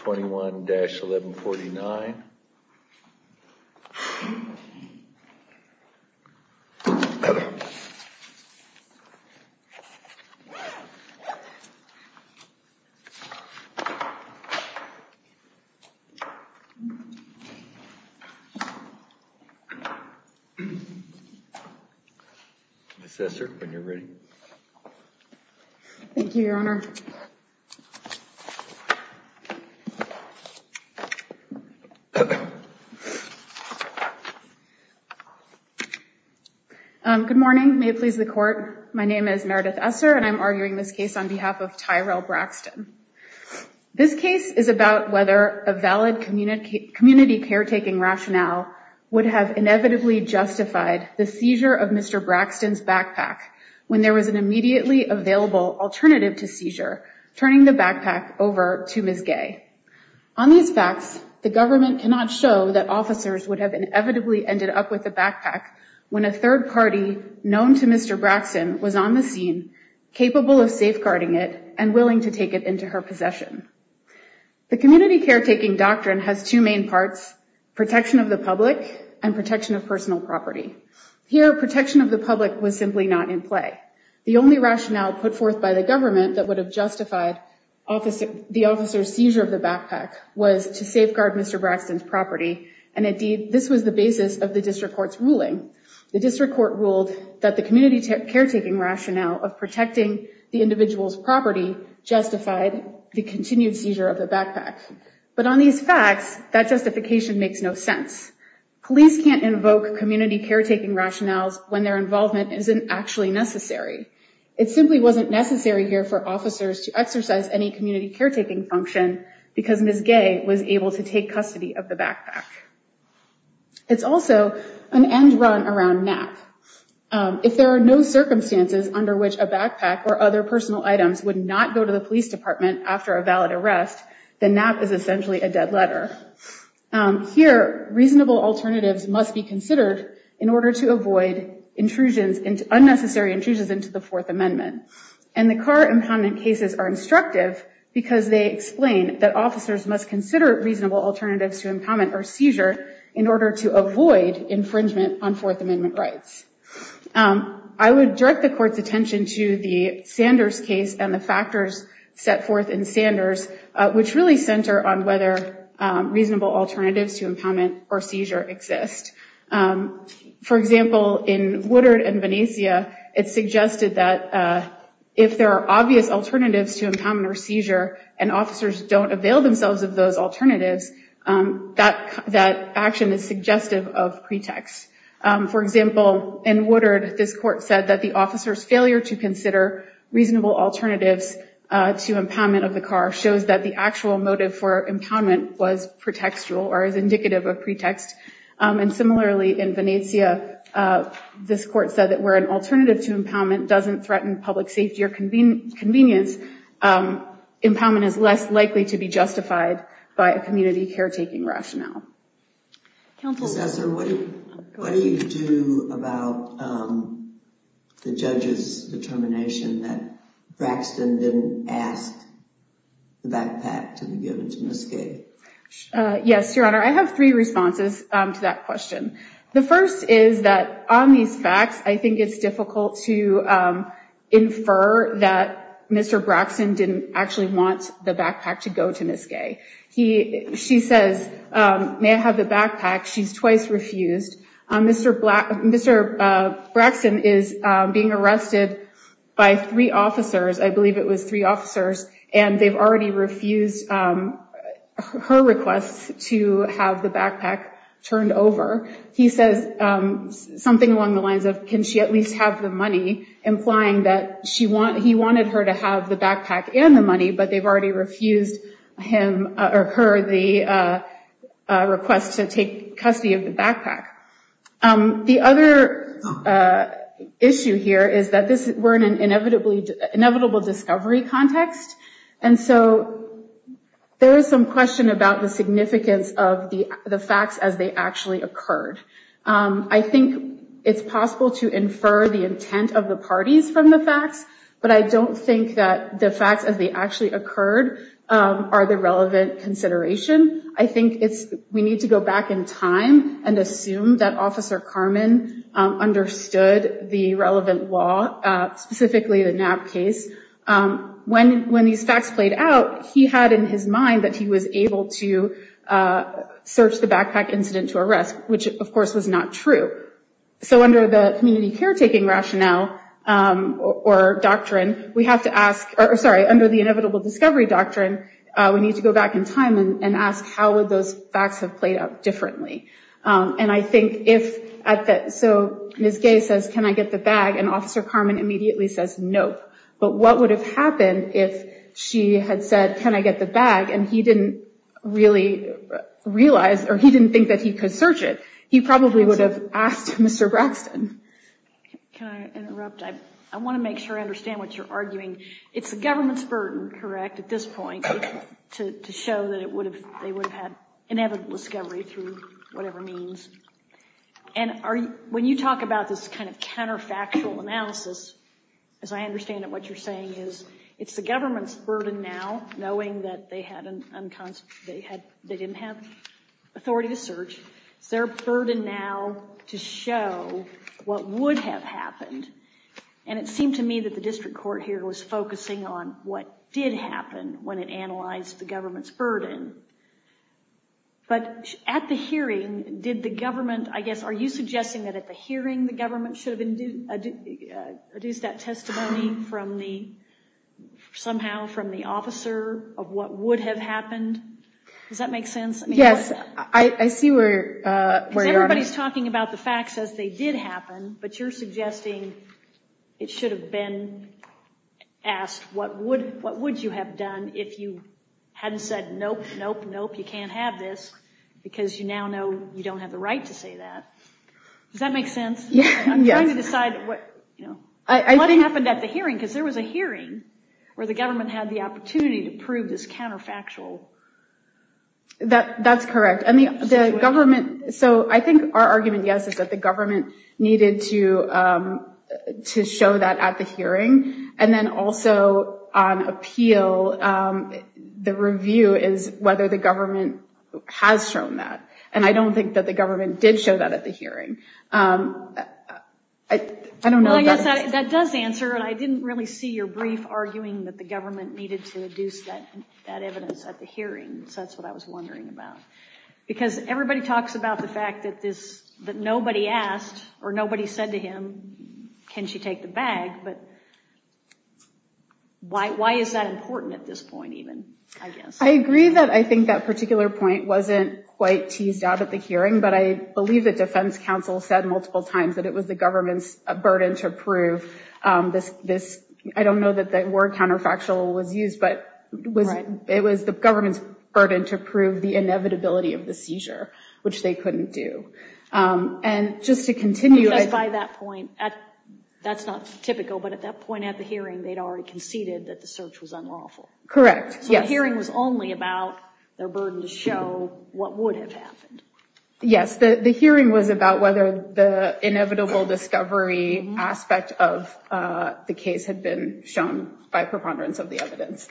21-1149. Yes, sir. When you're ready. Thank you, Your Honor. Good morning, may it please the court. My name is Meredith Esser and I'm arguing this case on behalf of Tyrell Braxton. This case is about whether a valid community caretaking rationale would have inevitably justified the seizure of Mr. Braxton's backpack when there was an immediately available alternative to seizure, turning the backpack over to Ms. Gay. On these facts, the government cannot show that officers would have inevitably ended up with the backpack when a third party known to Mr. Braxton was on the scene, capable of safeguarding it and willing to take it into her possession. The community caretaking doctrine has two main parts, protection of the public and protection of personal property. Here, protection of the public was simply not in play. The only rationale put forth by the government that would have justified the officer's seizure of the backpack was to safeguard Mr. Braxton's property. And indeed, this was the basis of the district court's ruling. The district court ruled that the community caretaking rationale of protecting the individual's property justified the continued seizure of the backpack. But on these facts, that justification makes no sense. Police can't invoke community caretaking rationales when their involvement isn't actually necessary. It simply wasn't necessary here for officers to exercise any community caretaking function because Ms. Gay was able to take custody of the If there are no circumstances under which a backpack or other personal items would not go to the police department after a valid arrest, then NAP is essentially a dead letter. Here, reasonable alternatives must be considered in order to avoid intrusions, unnecessary intrusions into the Fourth Amendment. And the Carr impoundment cases are instructive because they explain that officers must consider reasonable alternatives to impoundment or seizure in order to avoid infringement on Fourth Amendment rights. I would direct the court's attention to the Sanders case and the factors set forth in Sanders, which really center on whether reasonable alternatives to impoundment or seizure exist. For example, in Woodard and Venecia, it suggested that if there are obvious alternatives to impoundment or seizure and officers don't avail themselves of those alternatives, that action is suggestive of pretext. For example, in Woodard, this court said that the officer's failure to consider reasonable alternatives to impoundment of the car shows that the actual motive for impoundment was pretextual or is indicative of pretext. And similarly, in Venecia, this court said that where an alternative to impoundment doesn't threaten public safety or convenience, impoundment is less likely to be justified by a community caretaking rationale. Counsel, what do you do about the judge's determination that Braxton didn't ask the backpack to be given to Ms. Gay? Yes, Your Honor, I have three responses to that question. The first is that on these facts, I think it's difficult to infer that Mr. Braxton didn't actually want the backpack to go to Ms. Gay. She says, may I have the backpack? She's twice refused. Mr. Braxton is being arrested by three of her requests to have the backpack turned over. He says something along the lines of, can she at least have the money, implying that he wanted her to have the backpack and the money, but they've already refused her the request to take custody of the backpack. The other issue here is that we're in an inevitable discovery context, and so there is some question about the significance of the facts as they actually occurred. I think it's possible to infer the intent of the parties from the facts, but I don't think that the facts as they actually occurred are sufficient to assume that Officer Carman understood the relevant law, specifically the Knapp case. When these facts played out, he had in his mind that he was able to search the backpack incident to arrest, which of course was not true. So under the community caretaking rationale or doctrine, we have to ask, or sorry, under the inevitable discovery doctrine, we need to go back in time and ask how would those facts have played out differently? And I think if, so Ms. Gay says, can I get the bag? And Officer Carman immediately says, nope. But what would have happened if she had said, can I get the bag? And he didn't really realize, or he didn't think that he could search it. He probably would have asked Mr. Braxton. Can I interrupt? I want to make sure I understand what you're arguing. It's the government's burden, correct, at this point, to show that they would have had inevitable discovery through whatever means. And when you talk about this kind of counterfactual analysis, as I understand it, what you're saying is it's the government's burden now to show what would have happened. And it seemed to me that the district court here was focusing on what did happen when it analyzed the government's burden. But at the hearing, did the government, I guess, are you suggesting that at the hearing the government should have produced that testimony from the, somehow from the officer of what would have happened? Does that make sense? Yes, I see where you're arguing. Because everybody's talking about the facts as they did happen, but you're suggesting it should have been asked what would you have done if you hadn't said, nope, nope, what happened at the hearing? Because there was a hearing where the government had the opportunity to prove this counterfactual. That's correct. And the government, so I think our argument, yes, is that the government needed to show that at the hearing. And then also on appeal, the review is whether the That does answer, and I didn't really see your brief arguing that the government needed to produce that evidence at the hearing. So that's what I was wondering about. Because everybody talks about the fact that this, that nobody asked or nobody said to him, can she take the bag? But why is that important at this point even? I agree that I think that particular point wasn't quite teased out at the hearing, but I believe that defense counsel said multiple times that it was the government's burden to prove this. I don't know that that word counterfactual was used, but it was the government's burden to prove the inevitability of the seizure, which they couldn't do. And just to continue. Just by that point, that's not typical, but at that point at the hearing, they'd already conceded that the search was unlawful. Correct. So the hearing was only about their burden to show what would have happened. Yes, the hearing was only about whether the inevitable discovery aspect of the case had been shown by preponderance of the evidence.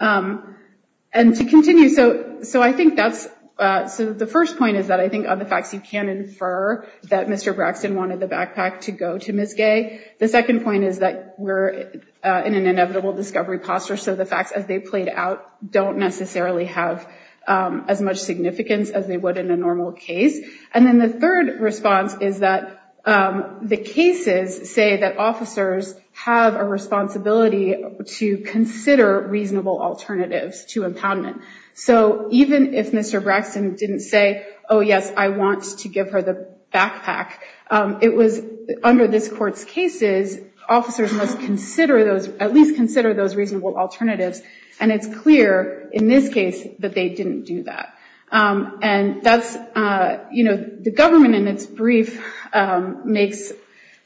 And to continue. So I think that's the first point is that I think of the facts you can infer that Mr. Braxton wanted the backpack to go to Ms. Gay. The second point is that we're in an environment where the facts that they've played out don't necessarily have as much significance as they would in a normal case. And then the third response is that the cases say that officers have a responsibility to consider reasonable alternatives to impoundment. So even if Mr. Braxton didn't say, oh, yes, I want to give her the backpack, it was under this court's cases, officers must at least consider those reasonable alternatives. And it's clear in this case that they didn't do that. And that's, you know, the government in its brief makes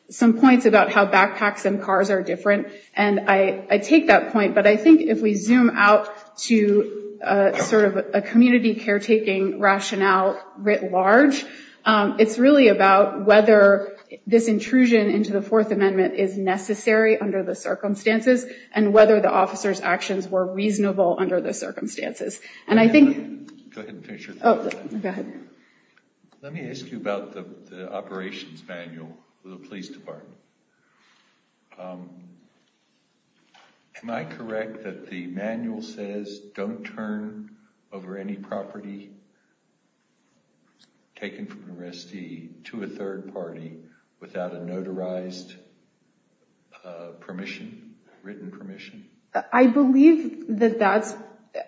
some points about how backpacks and cars are different. And I take that point. But I think if we zoom out to sort of a community caretaking rationale writ large, it's really about whether this intrusion into the Fourth Amendment is necessary under the I believe that that's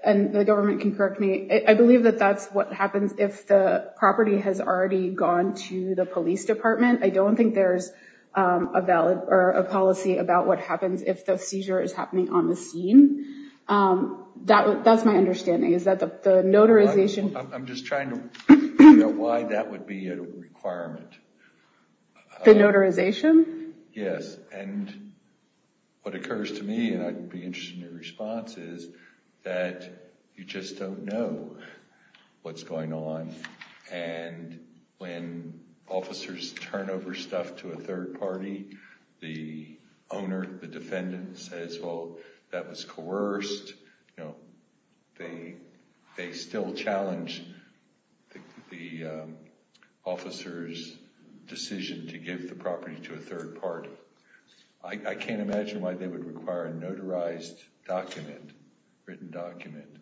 and the government can correct me. I believe that that's what happens if the property has already gone to the police department. I don't think there's a policy about what happens if the seizure is happening on the scene. That's my understanding. Is that the notarization? I'm just trying to figure out why that would be a requirement. The notarization? Yes. And what occurs to me, and I'd be interested in your response, is that you just don't know what's going on. And when officers turn over stuff to a third party, the owner, the defendant says, well, that was coerced. They still challenge the officer's decision to give the property to a third party. I can't imagine why they would require a notarized document, written document,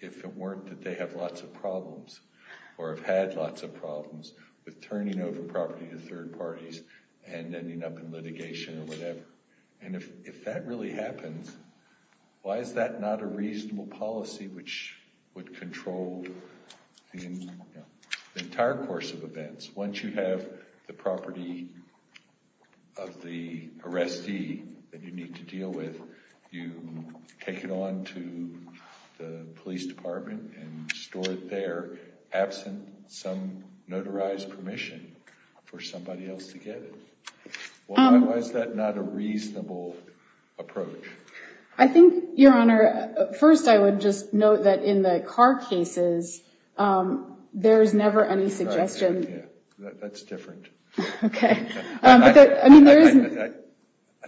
if it weren't that they have lots of problems or have had lots of problems with turning over property to third parties and ending up in litigation or whatever. And if that really happens, why is that not a reasonable policy which would control the entire course of events? Once you have the property of the arrestee that you need to deal with, you take it on to the police department and store it there, absent some notarized permission for somebody else to get it. Why is that not a reasonable approach? I think, Your Honor, first I would just note that in the car cases, there's never any suggestion. That's different. Okay. I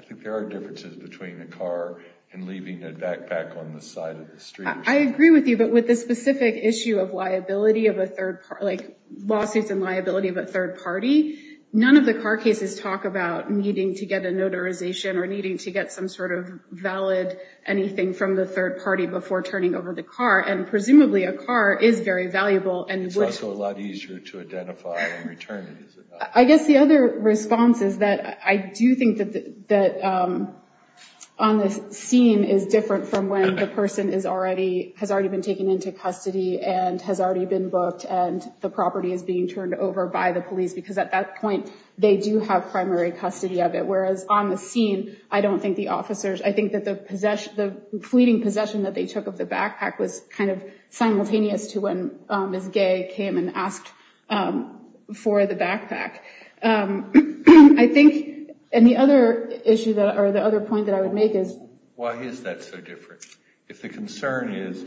think there are differences between a car and leaving a backpack on the side of the street. I agree with you, but with the specific issue of liability of a third party, like lawsuits and liability of a third party, none of the car cases talk about needing to get a notarization or needing to get some sort of valid anything from the third party before turning over the car. And presumably a car is very valuable. It's also a lot easier to identify in return. I guess the other response is that I do think that on the scene is different from when the person has already been taken into custody and has already been booked and the property is being turned over by the police because at that point, they do have primary custody of it. Whereas on the scene, I don't think the officers, I think that the fleeting possession that they took of the backpack was kind of simultaneous to when Ms. Gay came and asked for the backpack. I think, and the other issue that, or the other point that I would make is, why is that so different? If the concern is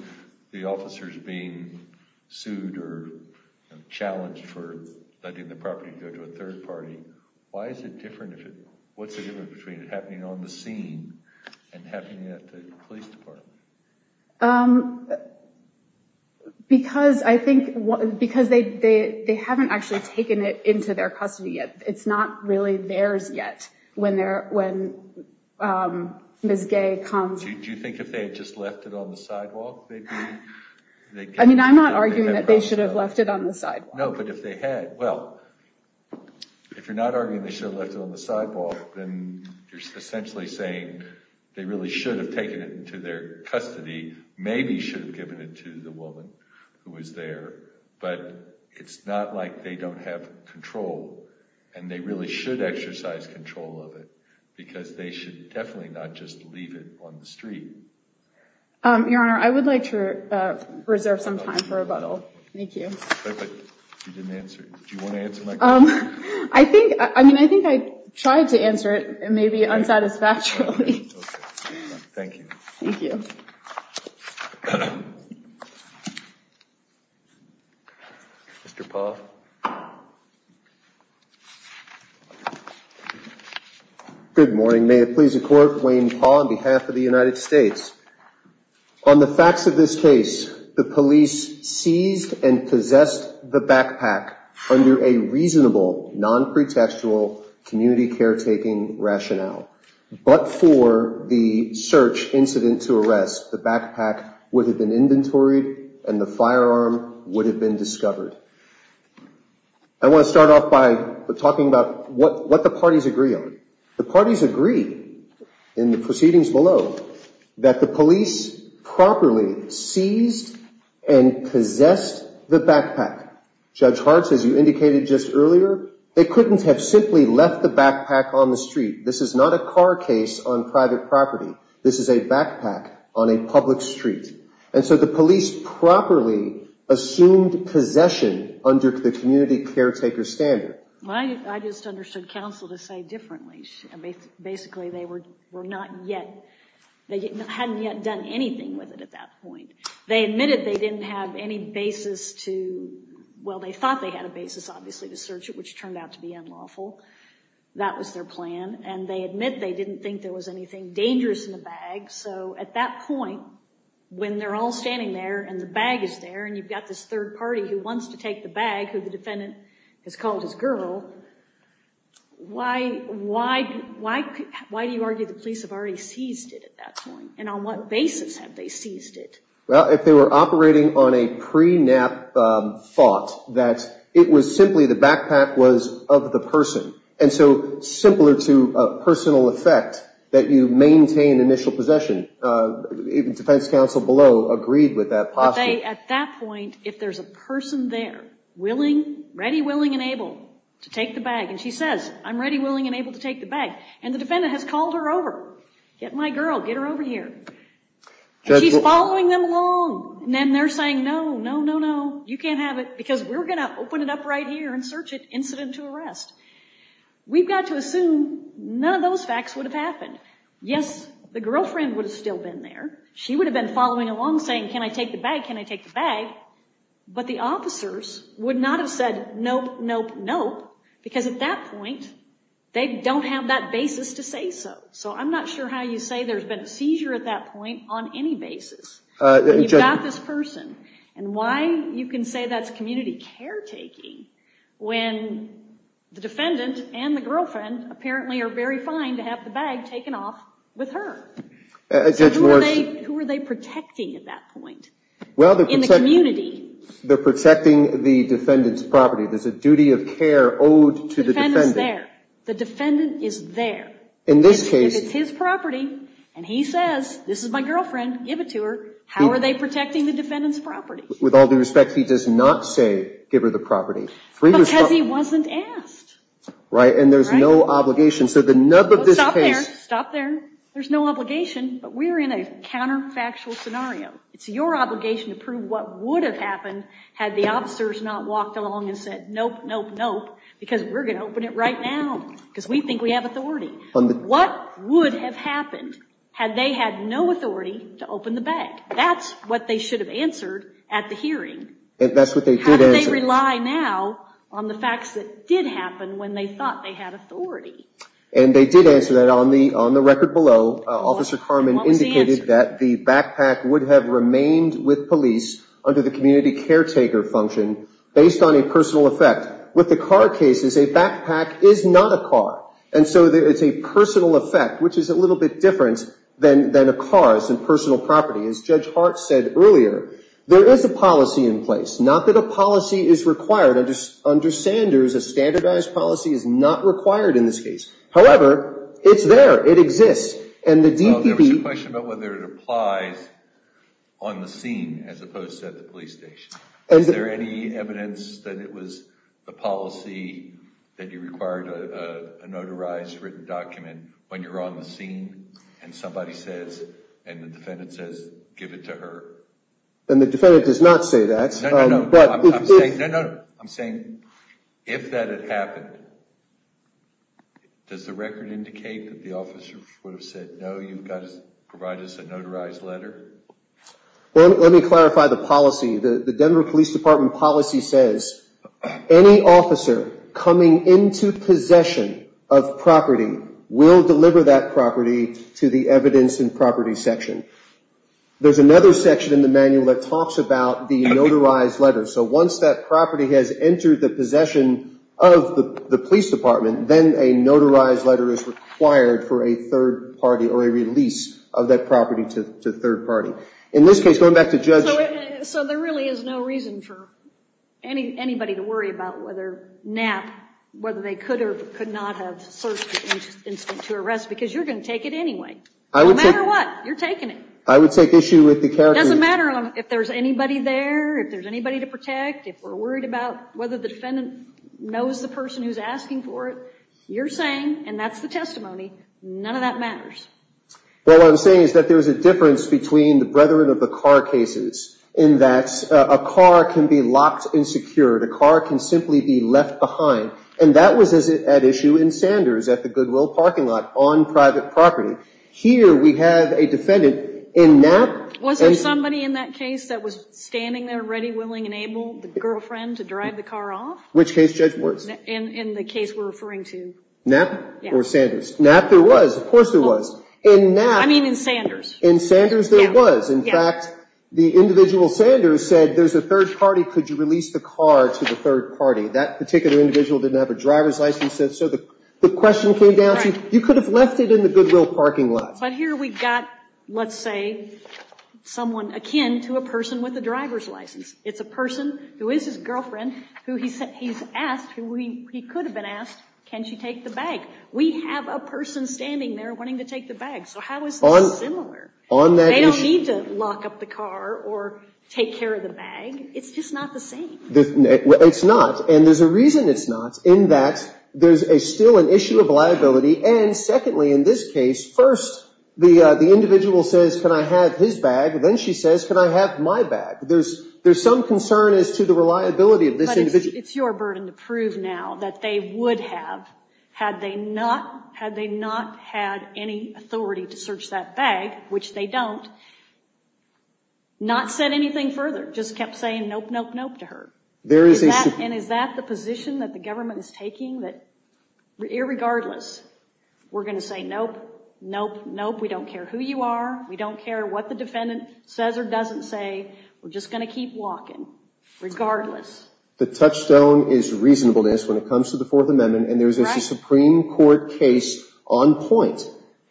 the officers being sued or challenged for letting the property go to a third party, why is it different? What's the difference between it happening on the scene and happening at the police department? Because I think, because they haven't actually taken it into their custody yet. It's not really theirs yet when Ms. Gay comes. Do you think if they had just left it on the sidewalk, they'd be? I mean, I'm not arguing that they should have left it on the sidewalk. No, but if they had, well, if you're not arguing they should have left it on the sidewalk, then you're essentially saying they really should have taken it into their custody, maybe should have given it to the woman who was there. But it's not like they don't have control and they really should exercise control of it because they should definitely not just leave it on the street. Your Honor, I would like to reserve some time for rebuttal. Thank you. But you didn't answer. Do you want to answer my question? I think, I mean, I think I tried to answer it and maybe unsatisfactorily. Thank you. Thank you. Mr. Paul. Good morning. May it please the Court, Wayne Paul on behalf of the United States. On the facts of this case, the police seized and possessed the backpack under a reasonable, non-pretextual community caretaking rationale. But for the search incident to arrest, the backpack would have been inventoried and the firearm would have been discovered. I want to start off by talking about what the parties agree on. The parties agree in the proceedings below that the police properly seized and possessed the backpack. Judge Hart, as you indicated just earlier, they couldn't have simply left the backpack on the street. This is not a car case on private property. This is a backpack on a public street. And so the police properly assumed possession under the community caretaker standard. I just understood counsel to say differently. Basically, they were not yet, they hadn't yet done anything with it at that point. They admitted they didn't have any basis to, well, they thought they had a basis, obviously, to search it, which turned out to be unlawful. That was their plan. And they admit they didn't think there was anything dangerous in the bag. So at that point, when they're all standing there and the bag is there and you've got this third party who wants to take the bag, who the defendant has called his girl, why do you argue the police have already seized it at that point? And on what basis have they seized it? Well, if they were operating on a pre-nap thought, that it was simply the backpack was of the person. And so simpler to a personal effect that you maintain initial possession, defense counsel below agreed with that posture. At that point, if there's a person there willing, ready, willing and able to take the bag, and she says, I'm ready, willing and able to take the bag, and the defendant has called her over, get my girl, get her over here, and she's following them along, and then they're saying, no, no, no, no, you can't have it, because we're going to open it up right here and search it incident to arrest. We've got to assume none of those facts would have happened. Yes, the girlfriend would have still been there. She would have been following along saying, can I take the bag? Can I take the bag? But the officers would not have said, nope, nope, nope, because at that point, they don't have that basis to say so. So I'm not sure how you say there's been a seizure at that point on any basis. You've got this person, and why you can say that's community caretaking when the defendant and the girlfriend apparently are very fine to have the bag taken off with her. So who are they protecting at that point in the community? They're protecting the defendant's property. There's a duty of care owed to the defendant. The defendant is there. The defendant is there. If it's his property, and he says, this is my girlfriend, give it to her, how are they protecting the defendant's property? With all due respect, he does not say give her the property. Because he wasn't asked. Right, and there's no obligation. So the nub of this case. Stop there. Stop there. There's no obligation, but we're in a counterfactual scenario. It's your obligation to prove what would have happened had the officers not walked along and said, nope, nope, nope, because we're going to open it right now, because we think we have authority. What would have happened had they had no authority to open the bag? That's what they should have answered at the hearing. That's what they did answer. How do they rely now on the facts that did happen when they thought they had authority? And they did answer that on the record below. Officer Carman indicated that the backpack would have remained with police under the community caretaker function based on a personal effect. With the car cases, a backpack is not a car. And so it's a personal effect, which is a little bit different than a car. It's a personal property. As Judge Hart said earlier, there is a policy in place. Not that a policy is required. Under Sanders, a standardized policy is not required in this case. However, it's there. It exists. And the DPP. There was a question about whether it applies on the scene as opposed to at the police station. Is there any evidence that it was the policy that you required a notarized written document when you're on the scene and somebody says, and the defendant says, give it to her? And the defendant does not say that. No, no, no. I'm saying if that had happened, does the record indicate that the officer would have said, no, you've got to provide us a notarized letter? Well, let me clarify the policy. The Denver Police Department policy says any officer coming into possession of property will deliver that property to the evidence and property section. There's another section in the manual that talks about the notarized letter. So once that property has entered the possession of the police department, then a notarized letter is required for a third party or a release of that property to third party. In this case, going back to Judge. So there really is no reason for anybody to worry about whether NAP, whether they could or could not have searched the incident to arrest because you're going to take it anyway. No matter what, you're taking it. I would take issue with the character. It doesn't matter if there's anybody there, if there's anybody to protect, if we're worried about whether the defendant knows the person who's asking for it. You're saying, and that's the testimony, none of that matters. Well, what I'm saying is that there's a difference between the brethren of the car cases in that a car can be locked and secured. A car can simply be left behind. And that was at issue in Sanders at the Goodwill parking lot on private property. Here we have a defendant in NAP. Was there somebody in that case that was standing there ready, willing, and able, the girlfriend, to drive the car off? Which case, Judge? In the case we're referring to. NAP or Sanders? NAP there was. Of course there was. In NAP. I mean in Sanders. In Sanders there was. In fact, the individual Sanders said there's a third party. Could you release the car to the third party? That particular individual didn't have a driver's license. So the question came down to you could have left it in the Goodwill parking lot. But here we've got, let's say, someone akin to a person with a driver's license. It's a person who is his girlfriend who he's asked, who he could have been asked, can she take the bag? We have a person standing there wanting to take the bag. So how is this similar? On that issue. They don't need to lock up the car or take care of the bag. It's just not the same. It's not. And there's a reason it's not in that there's still an issue of liability. And, secondly, in this case, first the individual says, can I have his bag? Then she says, can I have my bag? There's some concern as to the reliability of this individual. It's your burden to prove now that they would have had they not had any authority to search that bag, which they don't, not said anything further, just kept saying nope, nope, nope to her. And is that the position that the government is taking, that regardless we're going to say nope, nope, nope. We don't care who you are. We don't care what the defendant says or doesn't say. We're just going to keep walking regardless. The touchstone is reasonableness when it comes to the Fourth Amendment. And there's a Supreme Court case on point.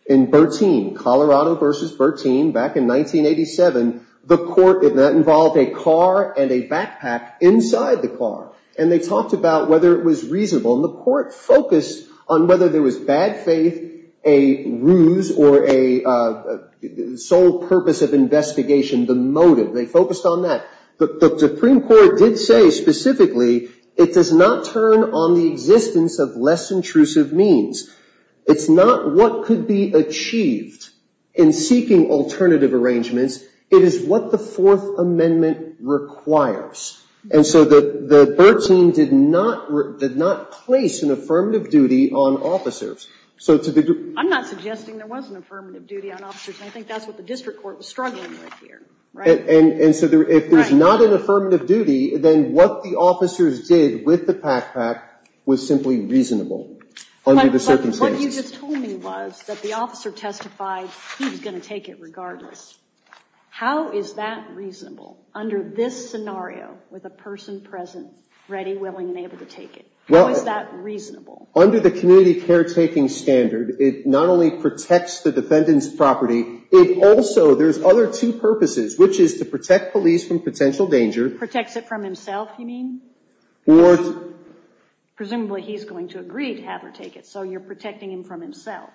In Bertine, Colorado versus Bertine back in 1987, the court did not involve a car and a backpack inside the car. And they talked about whether it was reasonable. And the court focused on whether there was bad faith, a ruse, or a sole purpose of investigation, the motive. They focused on that. The Supreme Court did say specifically it does not turn on the existence of less intrusive means. It's not what could be achieved in seeking alternative arrangements. It is what the Fourth Amendment requires. And so the Bertine did not place an affirmative duty on officers. I'm not suggesting there was an affirmative duty on officers, and I think that's what the district court was struggling with here. And so if there's not an affirmative duty, then what the officers did with the backpack was simply reasonable under the circumstances. But what you just told me was that the officer testified he was going to take it regardless. How is that reasonable under this scenario with a person present, ready, willing, and able to take it? How is that reasonable? Under the community caretaking standard, it not only protects the defendant's property, it also, there's other two purposes, which is to protect police from potential danger. Protects it from himself, you mean? Presumably he's going to agree to have her take it, so you're protecting him from himself.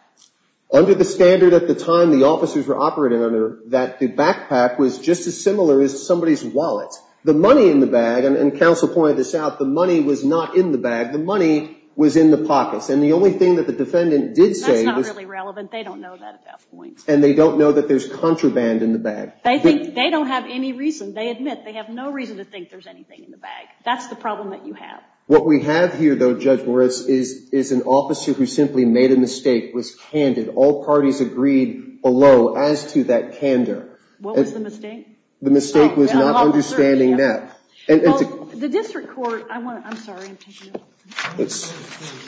Under the standard at the time the officers were operating under, that the backpack was just as similar as somebody's wallet. The money in the bag, and counsel pointed this out, the money was not in the bag. The money was in the pockets. And the only thing that the defendant did say was. That's not really relevant. They don't know that at that point. And they don't know that there's contraband in the bag. They think they don't have any reason. They admit they have no reason to think there's anything in the bag. That's the problem that you have. What we have here, though, Judge Morris, is an officer who simply made a mistake, was candid. All parties agreed below as to that candor. What was the mistake? The mistake was not understanding that. The district court, I'm sorry. It's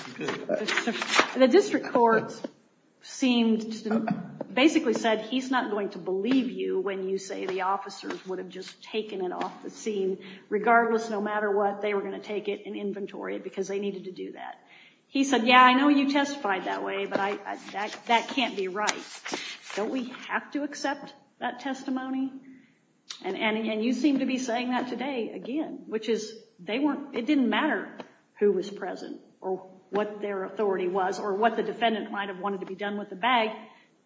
OK. The district court basically said, he's not going to believe you when you say the officers would have just taken it off the scene. Regardless, no matter what, they were going to take it in inventory because they needed to do that. He said, yeah, I know you testified that way, but that can't be right. Don't we have to accept that testimony? And you seem to be saying that today again, which is it didn't matter who was present or what their authority was or what the defendant might have wanted to be done with the bag.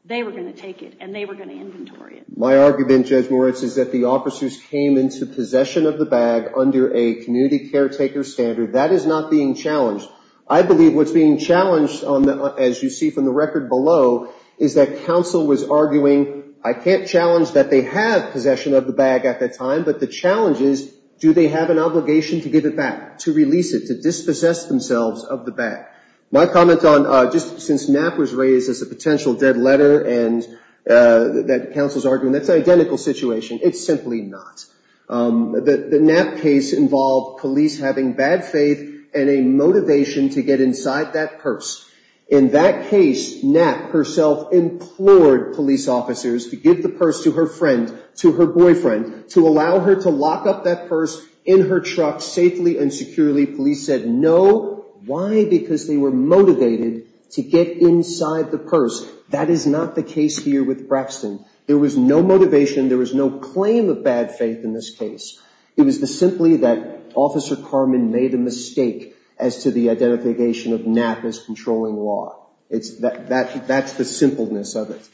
They were going to take it, and they were going to inventory it. My argument, Judge Morris, is that the officers came into possession of the bag under a community caretaker standard. That is not being challenged. I believe what's being challenged, as you see from the record below, is that counsel was arguing, I can't challenge that they have possession of the bag at that time, but the challenge is, do they have an obligation to give it back, to release it, to dispossess themselves of the bag? My comment on just since Knapp was raised as a potential dead letter and that counsel's arguing, that's an identical situation. It's simply not. The Knapp case involved police having bad faith and a motivation to get inside that purse. In that case, Knapp herself implored police officers to give the purse to her friend, to her boyfriend, to allow her to lock up that purse in her truck safely and securely. Police said no. Why? Because they were motivated to get inside the purse. That is not the case here with Braxton. There was no motivation. There was no claim of bad faith in this case. It was simply that Officer Carman made a mistake as to the identification of Knapp as controlling law. That's the simpleness of it.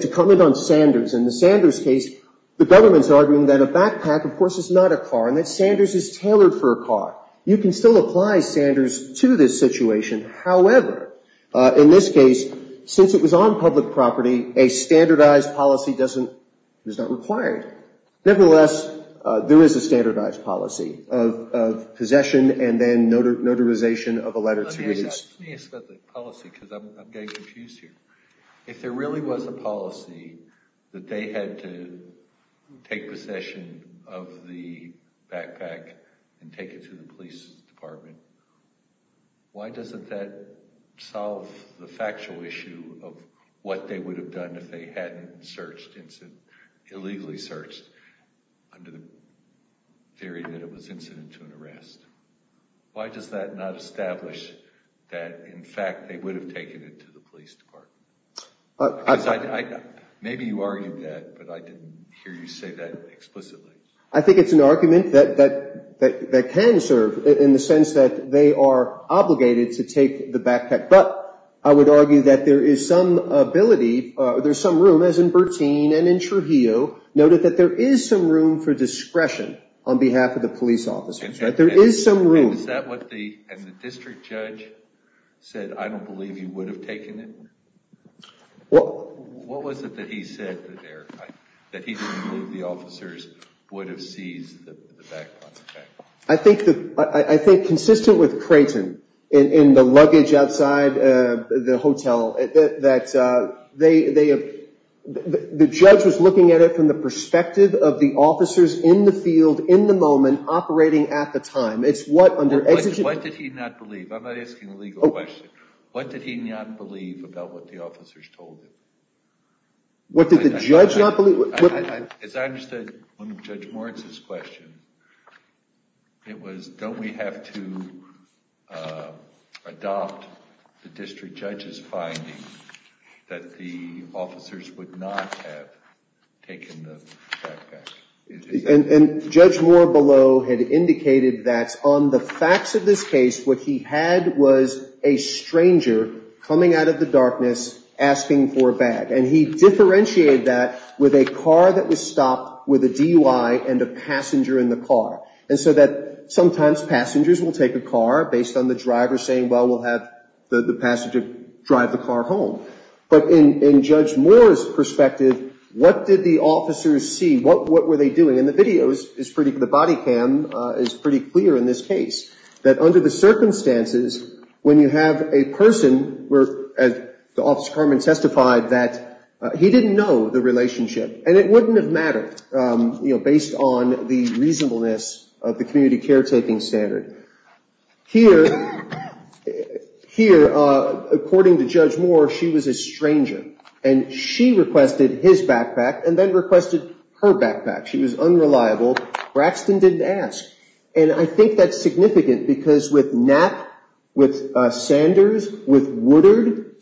To comment on Sanders, in the Sanders case, the government's arguing that a backpack, of course, is not a car and that Sanders is tailored for a car. You can still apply Sanders to this situation. However, in this case, since it was on public property, a standardized policy is not required. Nevertheless, there is a standardized policy of possession and then notarization of a letter to release. Let me ask about the policy because I'm getting confused here. If there really was a policy that they had to take possession of the backpack and take it to the police department, why doesn't that solve the factual issue of what they would have done if they hadn't illegally searched under the theory that it was incident to an arrest? Why does that not establish that, in fact, they would have taken it to the police department? Maybe you argued that, but I didn't hear you say that explicitly. I think it's an argument that can serve in the sense that they are obligated to take the backpack. But I would argue that there is some ability, there's some room, as in Bertine and in Trujillo, noted that there is some room for discretion on behalf of the police officers. There is some room. Is that what the district judge said, I don't believe you would have taken it? What was it that he said that he didn't believe the officers would have seized the backpack? I think consistent with Creighton in the luggage outside the hotel, the judge was looking at it from the perspective of the officers in the field, in the moment, operating at the time. What did he not believe? I'm not asking a legal question. What did he not believe about what the officers told him? What did the judge not believe? As I understood Judge Moritz's question, it was don't we have to adopt the district judge's finding that the officers would not have taken the backpack? And Judge Moore below had indicated that on the facts of this case, what he had was a stranger coming out of the darkness asking for a bag. And he differentiated that with a car that was stopped with a DUI and a passenger in the car. And so that sometimes passengers will take a car based on the driver saying, well, we'll have the passenger drive the car home. But in Judge Moore's perspective, what did the officers see? What were they doing? In the videos, the body cam is pretty clear in this case, that under the circumstances, when you have a person where, as Officer Kerman testified, that he didn't know the relationship. And it wouldn't have mattered, you know, based on the reasonableness of the community caretaking standard. Here, according to Judge Moore, she was a stranger. And she requested his backpack and then requested her backpack. She was unreliable. Braxton didn't ask. And I think that's significant because with Knapp, with Sanders, with Woodard,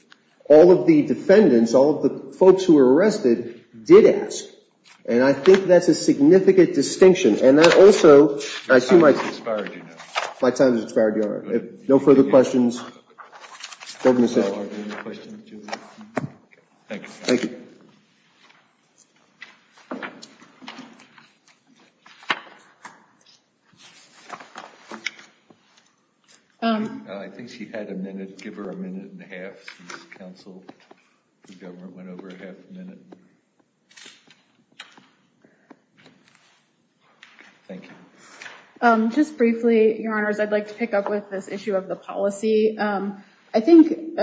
all of the defendants, all of the folks who were arrested, did ask. And I think that's a significant distinction. And that also, I assume my time has expired. No further questions. Thank you. Thank you. I think she had a minute. Give her a minute and a half since the government went over half a minute. Thank you. Just briefly, Your Honors, I'd like to pick up with this issue of the policy. I think,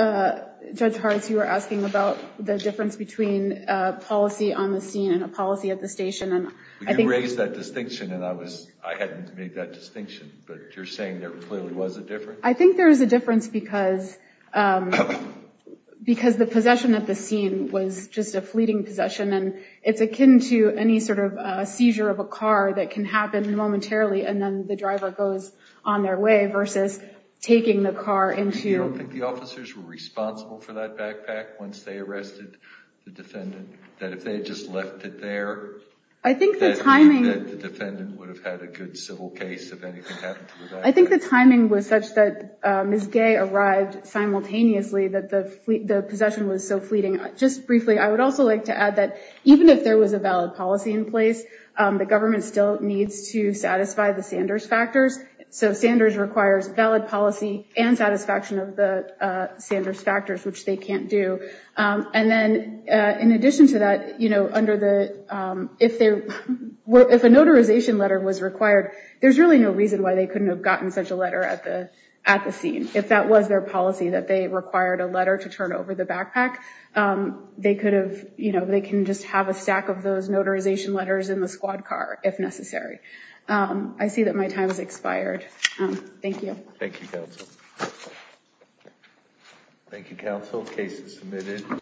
Judge Hartz, you were asking about the difference between policy on the scene and a policy at the station. You raised that distinction, and I hadn't made that distinction. But you're saying there clearly was a difference? I think there is a difference because the possession at the scene was just a fleeting possession. And it's akin to any sort of seizure of a car that can happen momentarily, and then the driver goes on their way versus taking the car into- You don't think the officers were responsible for that backpack once they arrested the defendant? That if they had just left it there- I think the timing- That the defendant would have had a good civil case if anything happened to the backpack? I think the timing was such that Ms. Gay arrived simultaneously that the possession was so fleeting. Just briefly, I would also like to add that even if there was a valid policy in place, the government still needs to satisfy the Sanders factors. So Sanders requires valid policy and satisfaction of the Sanders factors, which they can't do. And then in addition to that, if a notarization letter was required, there's really no reason why they couldn't have gotten such a letter at the scene, if that was their policy that they required a letter to turn over the backpack. They could have- They can just have a stack of those notarization letters in the squad car if necessary. I see that my time has expired. Thank you. Thank you, Counsel. Thank you, Counsel. Case is submitted.